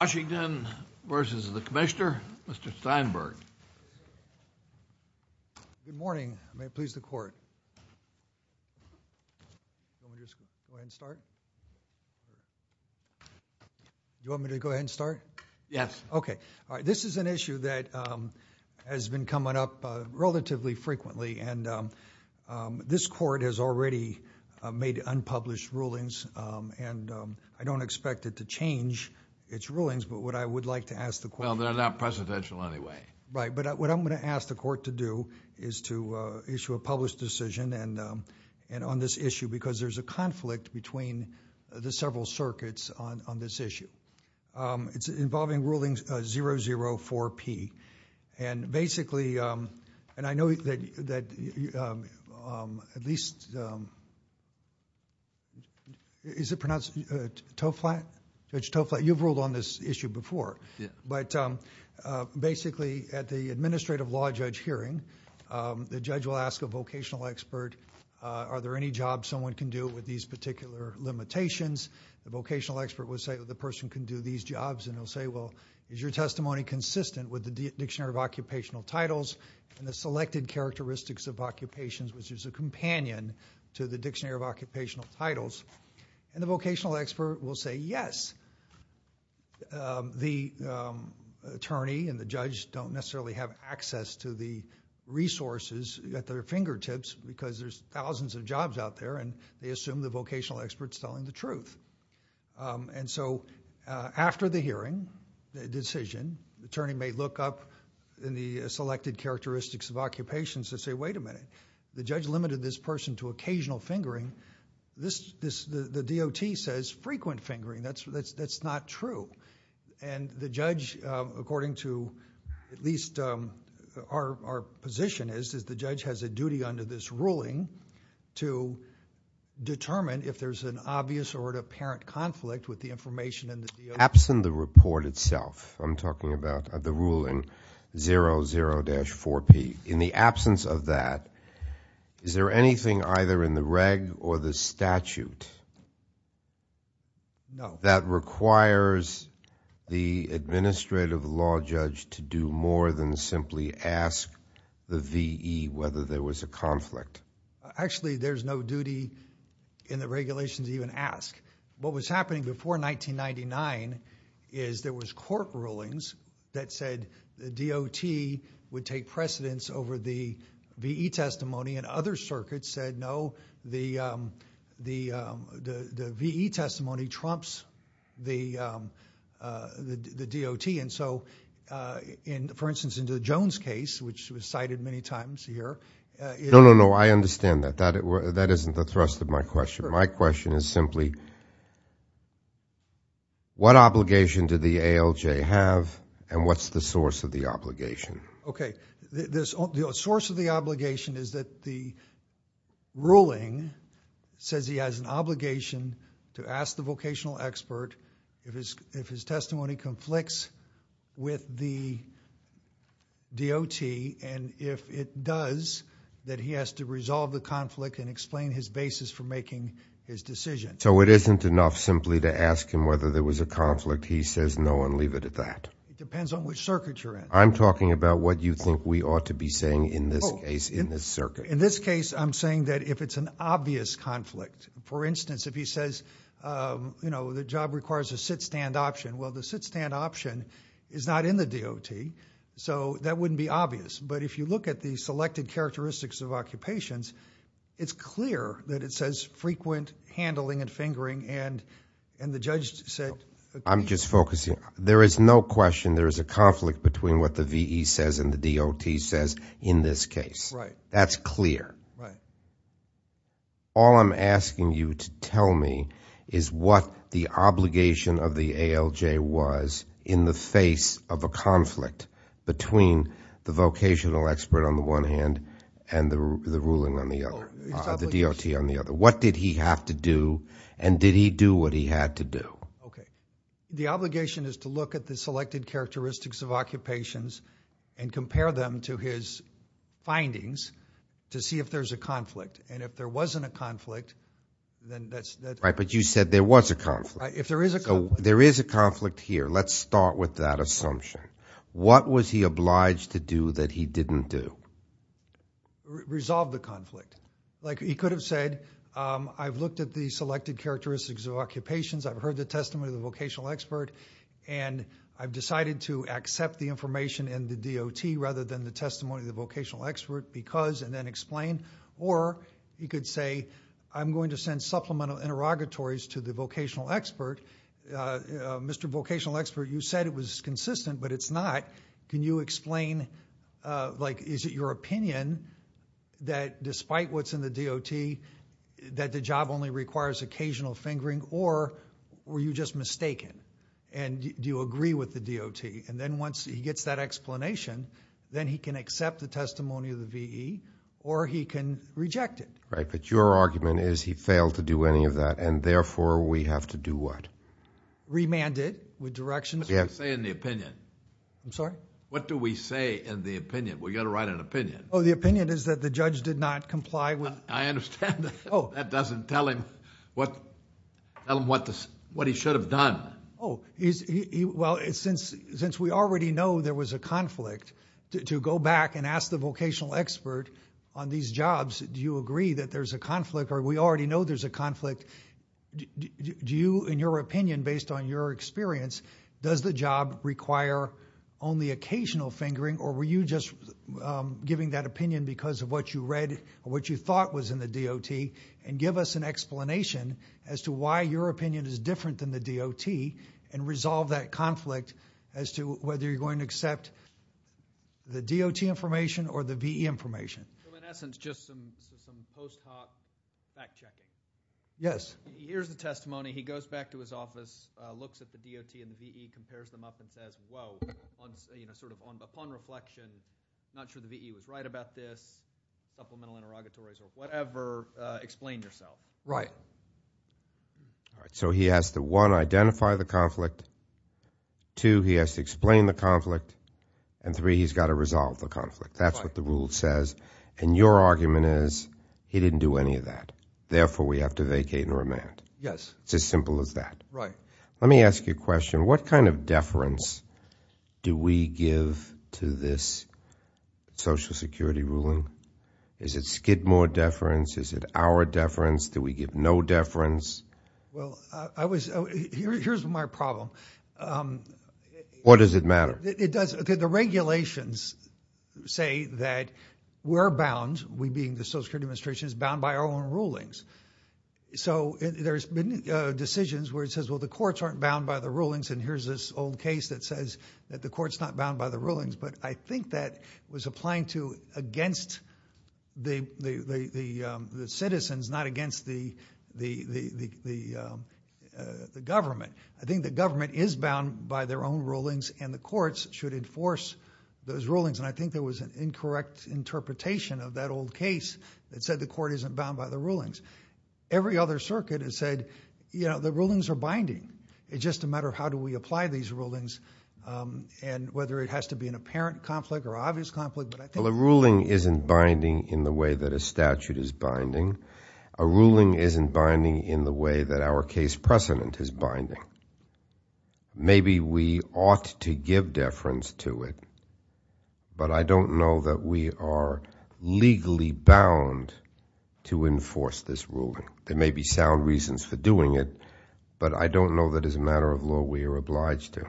Washington v. the Commissioner, Mr. Steinberg Good morning, may it please the Court. This is an issue that has been coming up relatively frequently and this Court has already made some rulings, but what I would like to ask the Court Well, they're not presidential anyway. Right, but what I'm going to ask the Court to do is to issue a published decision and on this issue because there's a conflict between the several circuits on this issue. It's involving rulings 004P and basically... and I know that at least... is it pronounced Toe Flat? Judge Toe Flat, you've ruled on this issue before, but basically at the administrative law judge hearing, the judge will ask a vocational expert, are there any jobs someone can do with these particular limitations? The vocational expert will say the person can do these jobs and they'll say, well, is your testimony consistent with the Dictionary of Occupational Titles and the selected characteristics of occupations, which is a companion to the Dictionary of Occupational Titles? The vocational expert will say yes. The attorney and the judge don't necessarily have access to the resources at their fingertips because there's thousands of jobs out there and they assume the vocational expert's telling the truth. After the hearing, the decision, the attorney may look up in the selected characteristics of occupations and say, wait a minute, the judge limited this person to occasional fingering. The DOT says frequent fingering. That's not true. The judge, according to at least our position is that the judge has a duty under this ruling to determine if there's an obvious or an apparent conflict with the information in the DOT. Absent the report itself, I'm talking about the ruling 00-4P, in the absence of that, is there anything either in the reg or the statute that requires the administrative law judge to do more than simply ask the VE whether there was a conflict? Actually, there's no duty in the regulations to even ask. What was happening before 1999 is there was court rulings that said the DOT would take precedence over the VE testimony and other circuits said no, the VE testimony trumps the DOT. For instance, in the Jones case, which was cited many times here, it... No, no, no. I understand that. That isn't the thrust of my question. My question is simply what obligation did the ALJ have and what's the source of the obligation? Okay. The source of the obligation is that the ruling says he has an obligation to ask the vocational expert if his testimony conflicts with the DOT and if it does, that he has to resolve the conflict and explain his basis for making his decision. It isn't enough simply to ask him whether there was a conflict. He says no and leave it at that. It depends on which circuit you're in. I'm talking about what you think we ought to be saying in this case, in this circuit. In this case, I'm saying that if it's an obvious conflict, for instance, if he says the job requires a sit-stand option, well, the sit-stand option is not in the DOT, so that wouldn't be obvious, but if you look at the selected characteristics of occupations, it's clear that it says frequent handling and fingering and the judge said... I'm just focusing. There is no question there is a conflict between what the VE says and the DOT says in this case. That's clear. All I'm asking you to tell me is what the obligation of the ALJ was in the face of a conflict between the vocational expert on the one hand and the ruling on the other, the DOT on the other. What did he have to do and did he do what he had to do? Okay. The obligation is to look at the selected characteristics of occupations and compare them to his findings to see if there's a conflict and if there wasn't a conflict, then that's... Right, but you said there was a conflict. If there is a conflict... There is a conflict here. Let's start with that assumption. What was he obliged to do that he didn't do? Resolve the conflict. Like he could have said, I've looked at the selected characteristics of occupations. I've heard the testimony of the vocational expert and I've decided to accept the information in the DOT rather than the testimony of the vocational expert because and then explain or he could say, I'm going to send supplemental interrogatories to the vocational expert. Mr. Vocational expert, you said it was consistent but it's not. Can you explain, like is it your opinion that despite what's in the DOT that the job only requires occasional fingering or were you just mistaken and do you agree with the DOT? Then once he gets that explanation, then he can accept the testimony of the VE or he can reject it. Right, but your argument is he failed to do any of that and therefore we have to do what? Remanded with directions. What do you say in the opinion? I'm sorry? What do we say in the opinion? We got to write an opinion. The opinion is that the judge did not comply with... I understand that. That doesn't tell him what he should have done. Since we already know there was a conflict, to go back and ask the vocational expert on these jobs, do you agree that there's a conflict or we already know there's a conflict, do you in your opinion based on your experience, does the job require only occasional fingering or were you just giving that opinion because of what you read or what you thought was in the DOT and give us an explanation as to why your opinion is different than the DOT and resolve that conflict as to whether you're going to accept the DOT information or the VE information? In essence, just some post hoc fact checking. Yes. He hears the testimony, he goes back to his office, looks at the DOT and the VE, compares them up and says, whoa, upon reflection, not sure the VE was right about this, supplemental interrogatories or whatever, explain yourself. Right. All right, so he has to one, identify the conflict, two, he has to explain the conflict and three, he's got to resolve the conflict. That's what the rule says and your argument is he didn't do any of that. Therefore, we have to vacate and remand. Yes. It's as simple as that. Right. Let me ask you a question. What kind of deference do we give to this Social Security ruling? Is it Skidmore deference? Is it our deference? Do we give no deference? Well, I was, here's my problem. What does it matter? It does. The regulations say that we're bound, we being the Social Security Administration, is bound by our own rulings. So there's been decisions where it says, well, the courts aren't bound by the rulings. And here's this old case that says that the court's not bound by the rulings. But I think that was applying to against the citizens, not against the government. I think the government is bound by their own rulings and the courts should enforce those rulings. And I think there was an incorrect interpretation of that old case that said the court isn't bound by the rulings. Every other circuit has said, you know, the rulings are binding. It's just a matter of how do we apply these rulings and whether it has to be an apparent conflict or obvious conflict. Well, a ruling isn't binding in the way that a statute is binding. A ruling isn't binding in the way that our case precedent is binding. Maybe we ought to give deference to it. But I don't know that we are legally bound to enforce this ruling. There may be sound reasons for doing it, but I don't know that as a matter of law we are obliged to.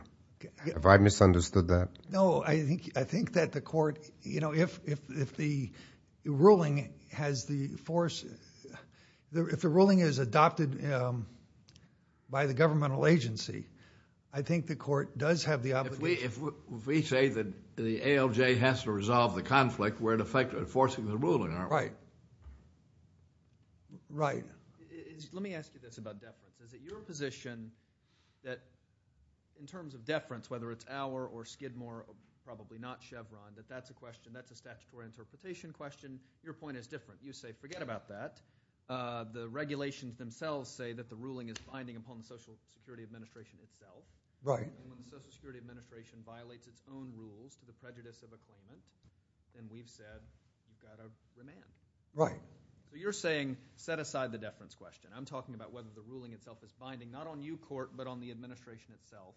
Have I misunderstood that? No, I think that the court, you know, if the ruling has the force, if the ruling is adopted by the governmental agency, I think the court does have the obligation. If we say that the ALJ has to resolve the conflict, we're in effect enforcing the ruling, aren't we? Right. Right. Let me ask you this about deference. Is it your position that in terms of deference, whether it's Auer or Skidmore or probably not Chevron, that that's a question, that's a statutory interpretation question? Your point is different. You say forget about that. The regulations themselves say that the ruling is binding upon the Social Security Administration itself. Right. So if the Social Security Administration violates its own rules to the prejudice of a claimant, then we've said you've got to demand. Right. But you're saying set aside the deference question. I'm talking about whether the ruling itself is binding, not on you, court, but on the administration itself.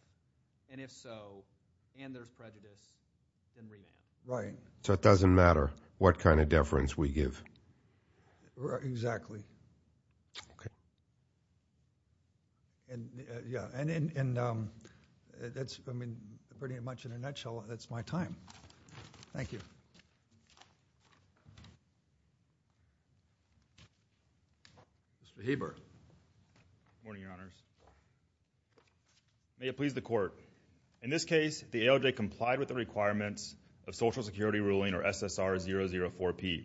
And if so, and there's prejudice, then read it. Right. So it doesn't matter what kind of deference we give. Exactly. Okay. Yeah. And that's, I mean, pretty much in a nutshell, that's my time. Thank you. Mr. Heber. Good morning, Your Honors. May it please the court. In this case, the ALJ complied with the requirements of Social Security ruling or SSR004P.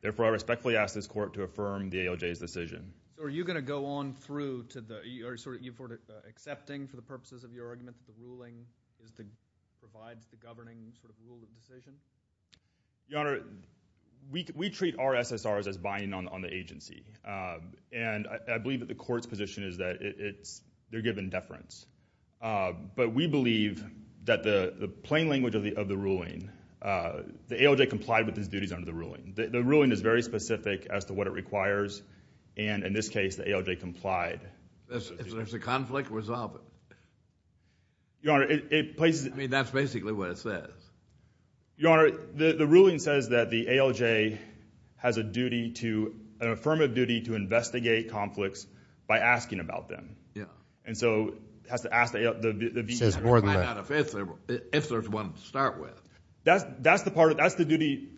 Therefore, I respectfully ask this court to affirm the ALJ's decision. Are you going to go on through to the, are you sort of accepting for the purposes of your argument that the ruling is the, provides the governing sort of rule of decision? Your Honor, we treat our SSRs as binding on the agency. And I believe that the court's position is that it's, they're given deference. But we believe that the plain language of the ruling, the ALJ complied with its duties under the ruling. The ruling is very specific as to what it requires. And in this case, the ALJ complied. If there's a conflict, resolve it. Your Honor, it places... I mean, that's basically what it says. Your Honor, the ruling says that the ALJ has a duty to, an affirmative duty to investigate conflicts by asking about them. And so it has to ask the... It says more than that. If there's one to start with. That's the part of, that's the duty,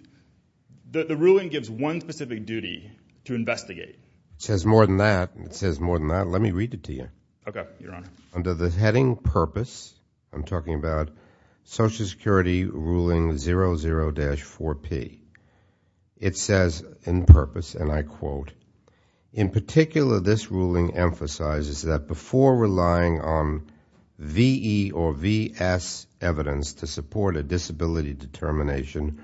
the ruling gives one specific duty to investigate. It says more than that. It says more than that. Let me read it to you. Okay, Your Honor. Under the heading purpose, I'm talking about Social Security Ruling 00-4P. It says, in purpose, and I quote, in particular, this ruling emphasizes that before relying on V.E. or V.S. evidence to support a disability determination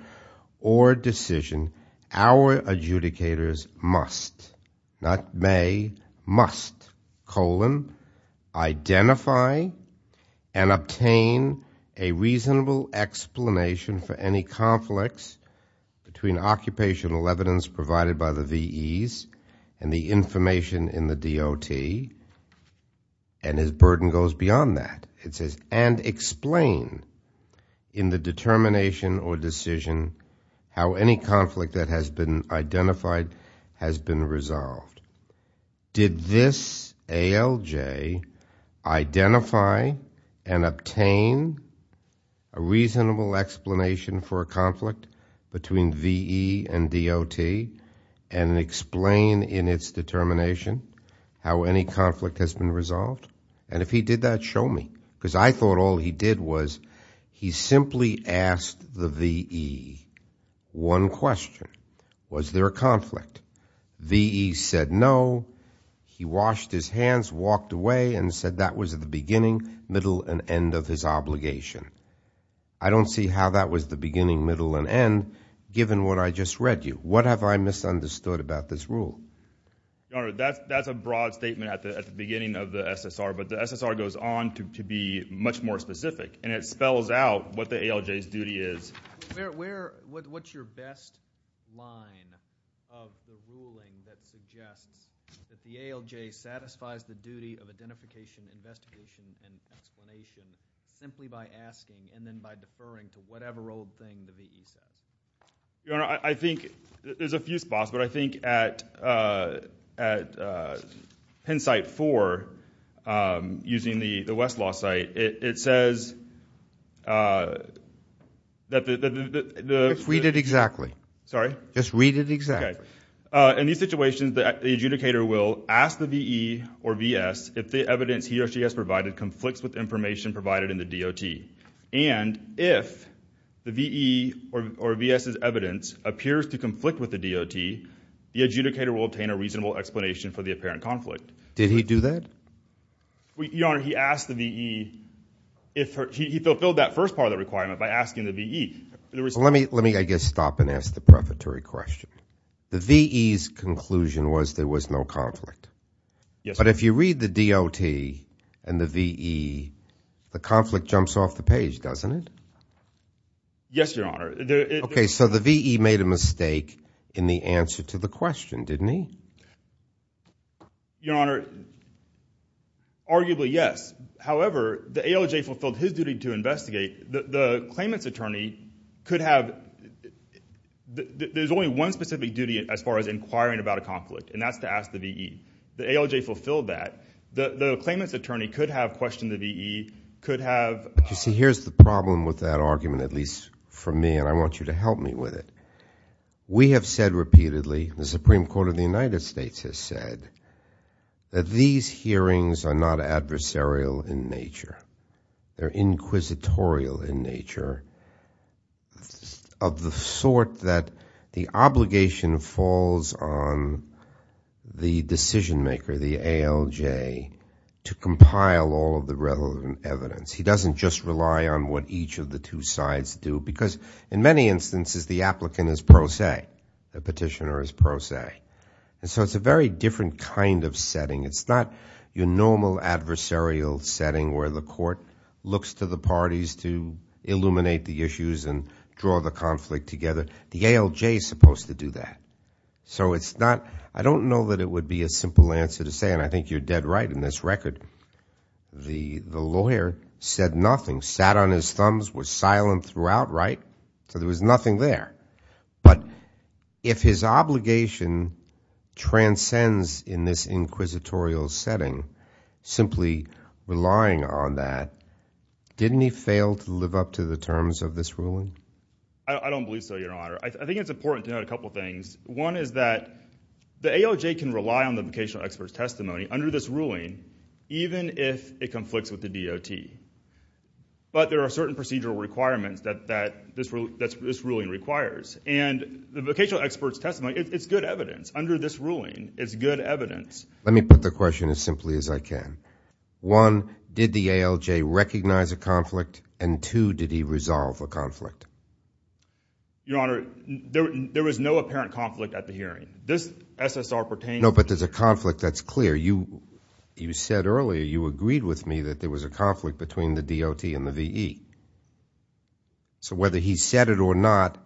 or decision, our adjudicators must, not may, must, colon, identify and obtain a reasonable explanation for any conflicts between occupational evidence provided by the V.E.s and the information in the DOT, and as burden goes beyond that, it says, and explain in the determination or decision how any conflict that has been identified has been resolved. Did this ALJ identify and obtain a reasonable explanation for a conflict between V.E. and any conflict has been resolved? And if he did that, show me, because I thought all he did was, he simply asked the V.E. one question. Was there a conflict? V.E. said no. He washed his hands, walked away, and said that was the beginning, middle, and end of his obligation. I don't see how that was the beginning, middle, and end, given what I just read you. What have I misunderstood about this rule? Your Honor, that's a broad statement at the beginning of the SSR, but the SSR goes on to be much more specific, and it spells out what the ALJ's duty is. What's your best line of the ruling that suggests that the ALJ satisfies the duty of identification, investigation, and explanation simply by asking and then by deferring to whatever old thing the V.E. said? Your Honor, I think, there's a few spots, but I think at Penn Site 4, using the West Law site, it says that the... Just read it exactly. Sorry? Just read it exactly. Okay. In these situations, the adjudicator will ask the V.E. or V.S. if the evidence he or she has provided conflicts with information provided in the DOT. And if the V.E. or V.S.'s evidence appears to conflict with the DOT, the adjudicator will obtain a reasonable explanation for the apparent conflict. Did he do that? Your Honor, he asked the V.E.... He fulfilled that first part of the requirement by asking the V.E.... Let me, I guess, stop and ask the prefatory question. The V.E.'s conclusion was there was no conflict. Yes, sir. But if you read the DOT and the V.E., the conflict jumps off the page, doesn't it? Yes, Your Honor. Okay, so the V.E. made a mistake in the answer to the question, didn't he? Your Honor, arguably, yes. However, the ALJ fulfilled his duty to investigate. The claimant's attorney could have... There's only one specific duty as far as inquiring about a conflict, and that's to ask the V.E. The ALJ fulfilled that. The claimant's attorney could have questioned the V.E., could have... But you see, here's the problem with that argument, at least for me, and I want you to help me with it. We have said repeatedly, the Supreme Court of the United States has said, that these hearings are not adversarial in nature. They're inquisitorial in nature, of the sort that the obligation falls on the decision maker, the ALJ, to compile all of the relevant evidence. He doesn't just rely on what each of the two sides do, because in many instances, the applicant is pro se, the petitioner is pro se, and so it's a very different kind of setting. It's not your normal adversarial setting where the court looks to the parties to illuminate the issues and draw the conflict together. The ALJ is supposed to do that. So it's not... I don't know that it would be a simple answer to say, and I think you're dead right in this record, the lawyer said nothing, sat on his thumbs, was silent throughout, right? So there was nothing there. But if his obligation transcends in this inquisitorial setting, simply relying on that, didn't he fail to live up to the terms of this ruling? I don't believe so, Your Honor. I think it's important to note a couple of things. One is that the ALJ can rely on the vocational expert's testimony under this ruling, even if it conflicts with the DOT. But there are certain procedural requirements that this ruling requires. And the vocational expert's testimony, it's good evidence. Under this ruling, it's good evidence. Let me put the question as simply as I can. One, did the ALJ recognize a conflict, and two, did he resolve a conflict? Your Honor, there was no apparent conflict at the hearing. This SSR pertains... No, but there's a conflict that's clear. You said earlier, you agreed with me that there was a conflict between the DOT and the VE. So whether he said it or not,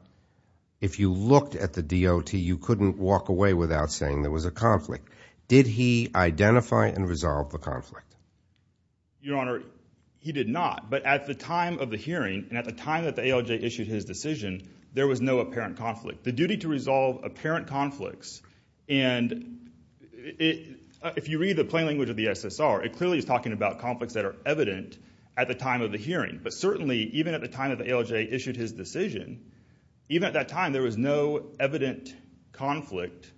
if you looked at the DOT, you couldn't walk away without saying there was a conflict. Did he identify and resolve the conflict? Your Honor, he did not. But at the time of the hearing, and at the time that the ALJ issued his decision, there was no apparent conflict. The duty to resolve apparent conflicts, and if you read the plain language of the SSR, it clearly is talking about conflicts that are evident at the time of the hearing. But certainly, even at the time that the ALJ issued his decision, even at that time, there was no evident conflict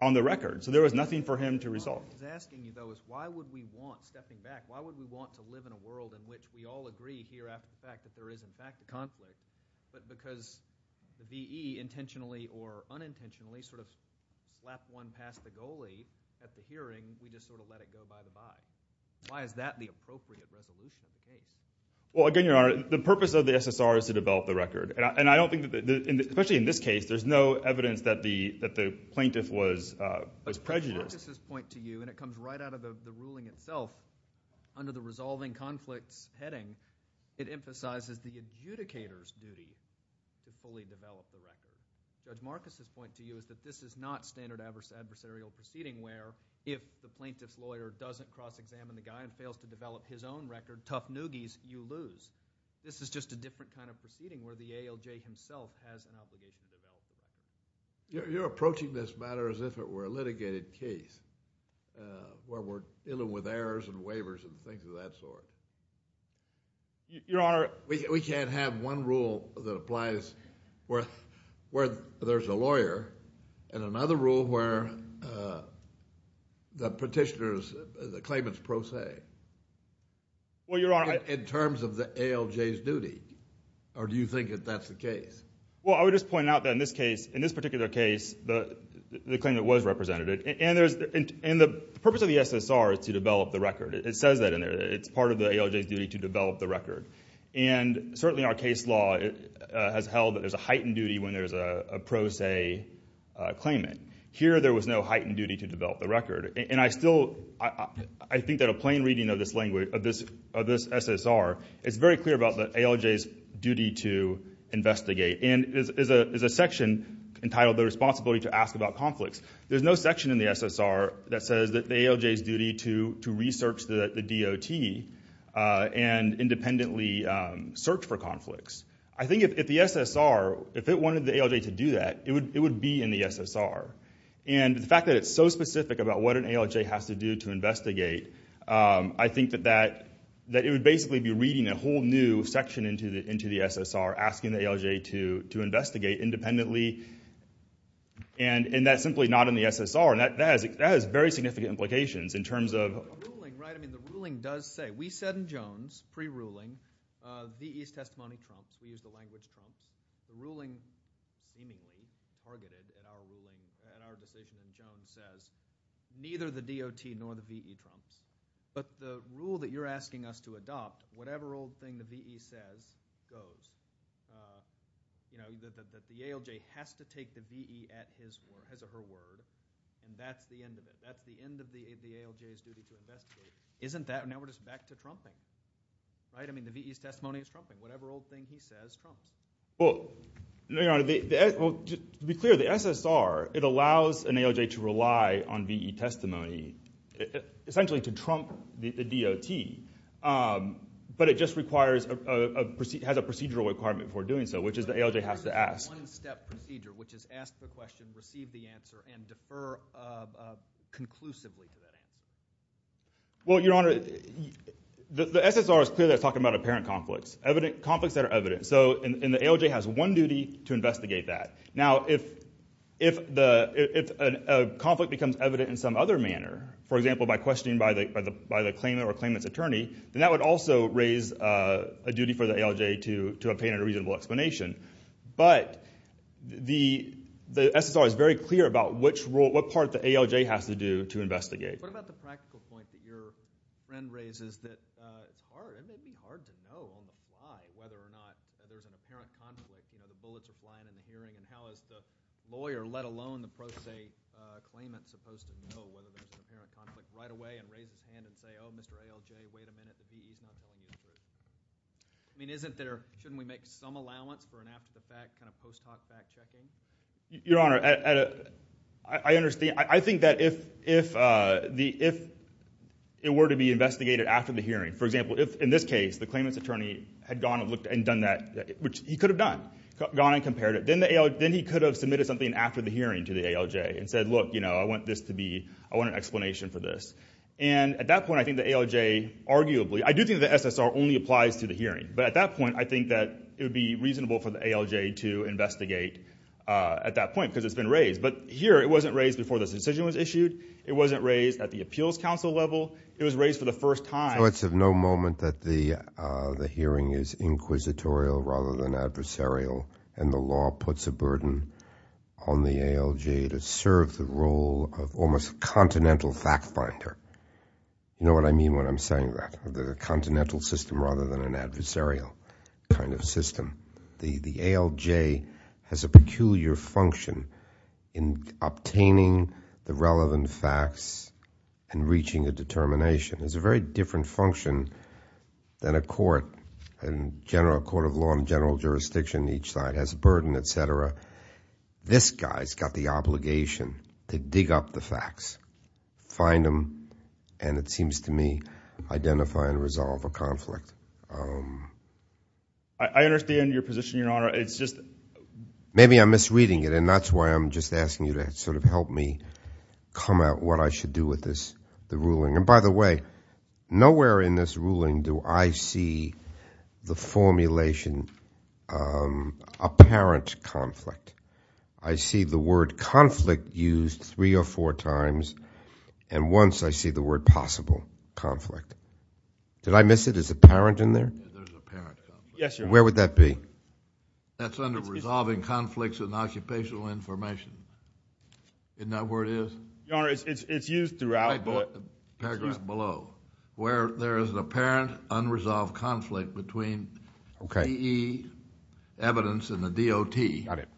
on the record. So there was nothing for him to resolve. What I was asking you, though, is why would we want, stepping back, why would we want to live in a world in which we all agree here after the fact that there is, in fact, a conflict, but because the VE, intentionally or unintentionally, sort of slapped one past the goalie at the hearing, we just sort of let it go by the by? Why is that the appropriate resolution? Well, again, Your Honor, the purpose of the SSR is to develop the record. And I don't think that, especially in this case, there's no evidence that the plaintiff was prejudiced. But the purposes point to you, and it comes right out of the ruling itself, under the plaintiff's duty to fully develop the record. Judge Marcus's point to you is that this is not standard adversarial proceeding where, if the plaintiff's lawyer doesn't cross-examine the guy and fails to develop his own record, tough noogies, you lose. This is just a different kind of proceeding where the ALJ himself has an obligation to do that. You're approaching this matter as if it were a litigated case, where we're dealing with errors and waivers and things of that sort. 10 rules that we can't have 11 rules that we can't have 12 rules that we can't have 13 rule that applies where there's a lawyer and another rule where the petitioner's claimant's pro se. Well, Your Honor— In terms of the ALJ's duty. Or do you think that that's the case? Well, I would just point out that in this case, in this particular case, the claimant was represented. And the purpose of the SSR is to develop the record. It says that in there. It's part of the ALJ's duty to develop the record. And certainly our case law has held that there's a heightened duty when there's a pro se claimant. Here there was no heightened duty to develop the record. And I still—I think that a plain reading of this language, of this SSR, is very clear about the ALJ's duty to investigate. And there's a section entitled, The Responsibility to Ask About Conflicts. There's no section in the SSR that says that the ALJ's duty to research the DOT and independently search for conflicts. I think if the SSR, if it wanted the ALJ to do that, it would be in the SSR. And the fact that it's so specific about what an ALJ has to do to investigate, I think that it would basically be reading a whole new section into the SSR, asking the ALJ to investigate independently. And that's simply not in the SSR. And that has very significant implications in terms of— The ruling, right, I mean the ruling does say—we said in Jones, pre-ruling, V.E.'s testimony trumps, we used the language trumps. The ruling, meaningly, targeted at our ruling, at our decision in Jones, says neither the DOT nor the V.E. trumps. But the rule that you're asking us to adopt, whatever old thing the V.E. says, goes. You know, that the ALJ has to take the V.E. at his—as a her word, and that's the end of it. That's the end of the ALJ's duty to investigate. Isn't that—now we're just back to trumping. Right? I mean, the V.E.'s testimony is trumping. Whatever old thing he says, trumps. Well, Your Honor, to be clear, the SSR, it allows an ALJ to rely on V.E. testimony, essentially to trump the DOT. But it just requires a—has a procedural requirement for doing so, which is the ALJ has to ask. It's a one-step procedure, which is ask the question, receive the answer, and defer conclusively to that answer. Well, Your Honor, the SSR is clear that it's talking about apparent conflicts. Conflicts that are evident. So, and the ALJ has one duty to investigate that. Now if the—if a conflict becomes evident in some other manner, for example, by questioning by the claimant or the claimant's attorney, then that would also raise a duty for the ALJ to obtain a reasonable explanation. But the—the SSR is very clear about which role—what part the ALJ has to do to investigate. What about the practical point that your friend raises that it's hard—it may be hard to know on the fly whether or not there's an apparent conflict, you know, the bullets are flying in the hearing, and how is the lawyer, let alone the pro se claimant, supposed to know whether there's an apparent conflict right away and raise his hand and say, oh, Mr. ALJ, wait a minute, the V.E.'s not telling the truth? I mean, isn't there—shouldn't we make some allowance for an after-the-fact kind of post hoc fact-checking? Your Honor, at a—I understand—I think that if—if the—if it were to be investigated after the hearing, for example, if in this case the claimant's attorney had gone and looked and done that, which he could have done, gone and compared it, then the AL—then he could have submitted something after the hearing to the ALJ and said, look, you know, I want this to be—I want an explanation for this. And at that point, I think the ALJ arguably—I do think the SSR only applies to the hearing. But at that point, I think that it would be reasonable for the ALJ to investigate at that point, because it's been raised. But here, it wasn't raised before this decision was issued. It wasn't raised at the Appeals Council level. It was raised for the first time. So it's of no moment that the hearing is inquisitorial rather than adversarial, and the law puts a burden on the ALJ to serve the role of almost a continental fact finder. You know what I mean when I'm saying that? A continental system rather than an adversarial kind of system. The ALJ has a peculiar function in obtaining the relevant facts and reaching a determination. It's a very different function than a court. A court of law and general jurisdiction on each side has a burden, et cetera. This guy's got the obligation to dig up the facts, find them, and it seems to me identify and resolve a conflict. I understand your position, Your Honor. It's just— Maybe I'm misreading it, and that's why I'm just asking you to sort of help me come out what I should do with this—the ruling. And by the way, nowhere in this ruling do I see the formulation apparent conflict. I see the word conflict used three or four times, and once I see the word possible conflict. Did I miss it? Is apparent in there? There's apparent conflict. Yes, Your Honor. Where would that be? That's under resolving conflicts and occupational information. Isn't that where it is? Your Honor, it's used throughout, but— Paragraph below. Where there is an apparent unresolved conflict between V.E. evidence and the DOT. Got it.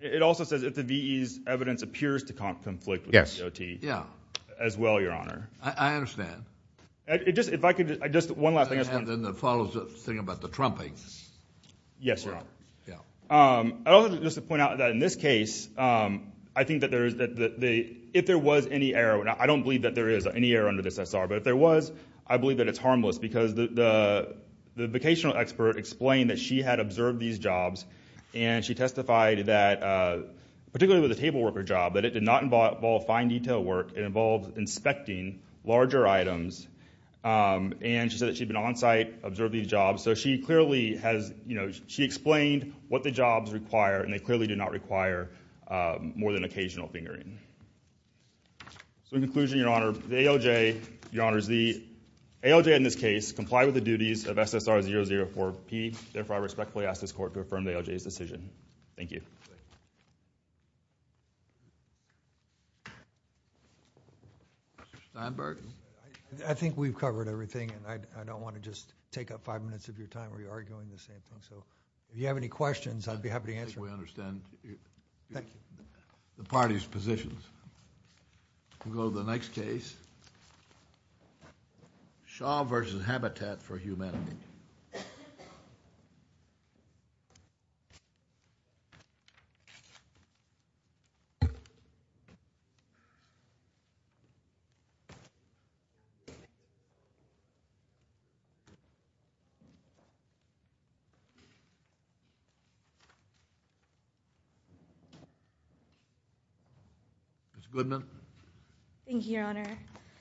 It also says if the V.E.'s evidence appears to conflict with the DOT as well, Your Honor. I understand. If I could just—one last thing— And then it follows the thing about the trumping. Yes, Your Honor. I also just want to point out that in this case, I think that there is—if there was any error, and I don't believe that there is any error under this SR, but if there was, I believe that it's harmless because the vocational expert explained that she had observed these jobs, and she testified that, particularly with the table worker job, that it did not involve fine detail work. It involved inspecting larger items, and she said that she'd been on site, observed these jobs, so she clearly has—she explained what the jobs require, and they clearly do not require more than occasional fingering. In conclusion, Your Honor, the ALJ, Your Honors, the ALJ in this case complied with the duties of SSR 004P. Therefore, I respectfully ask this Court to affirm the ALJ's decision. Thank you. Steinberg? I think we've covered everything, and I don't want to just take up five minutes of your time where you're arguing the same thing. So if you have any questions, I'd be happy to answer them. I think we understand the parties' positions. We'll go to the next case, Shaw v. Habitat for Humanity. Ms. Goodman? Thank you, Your Honor.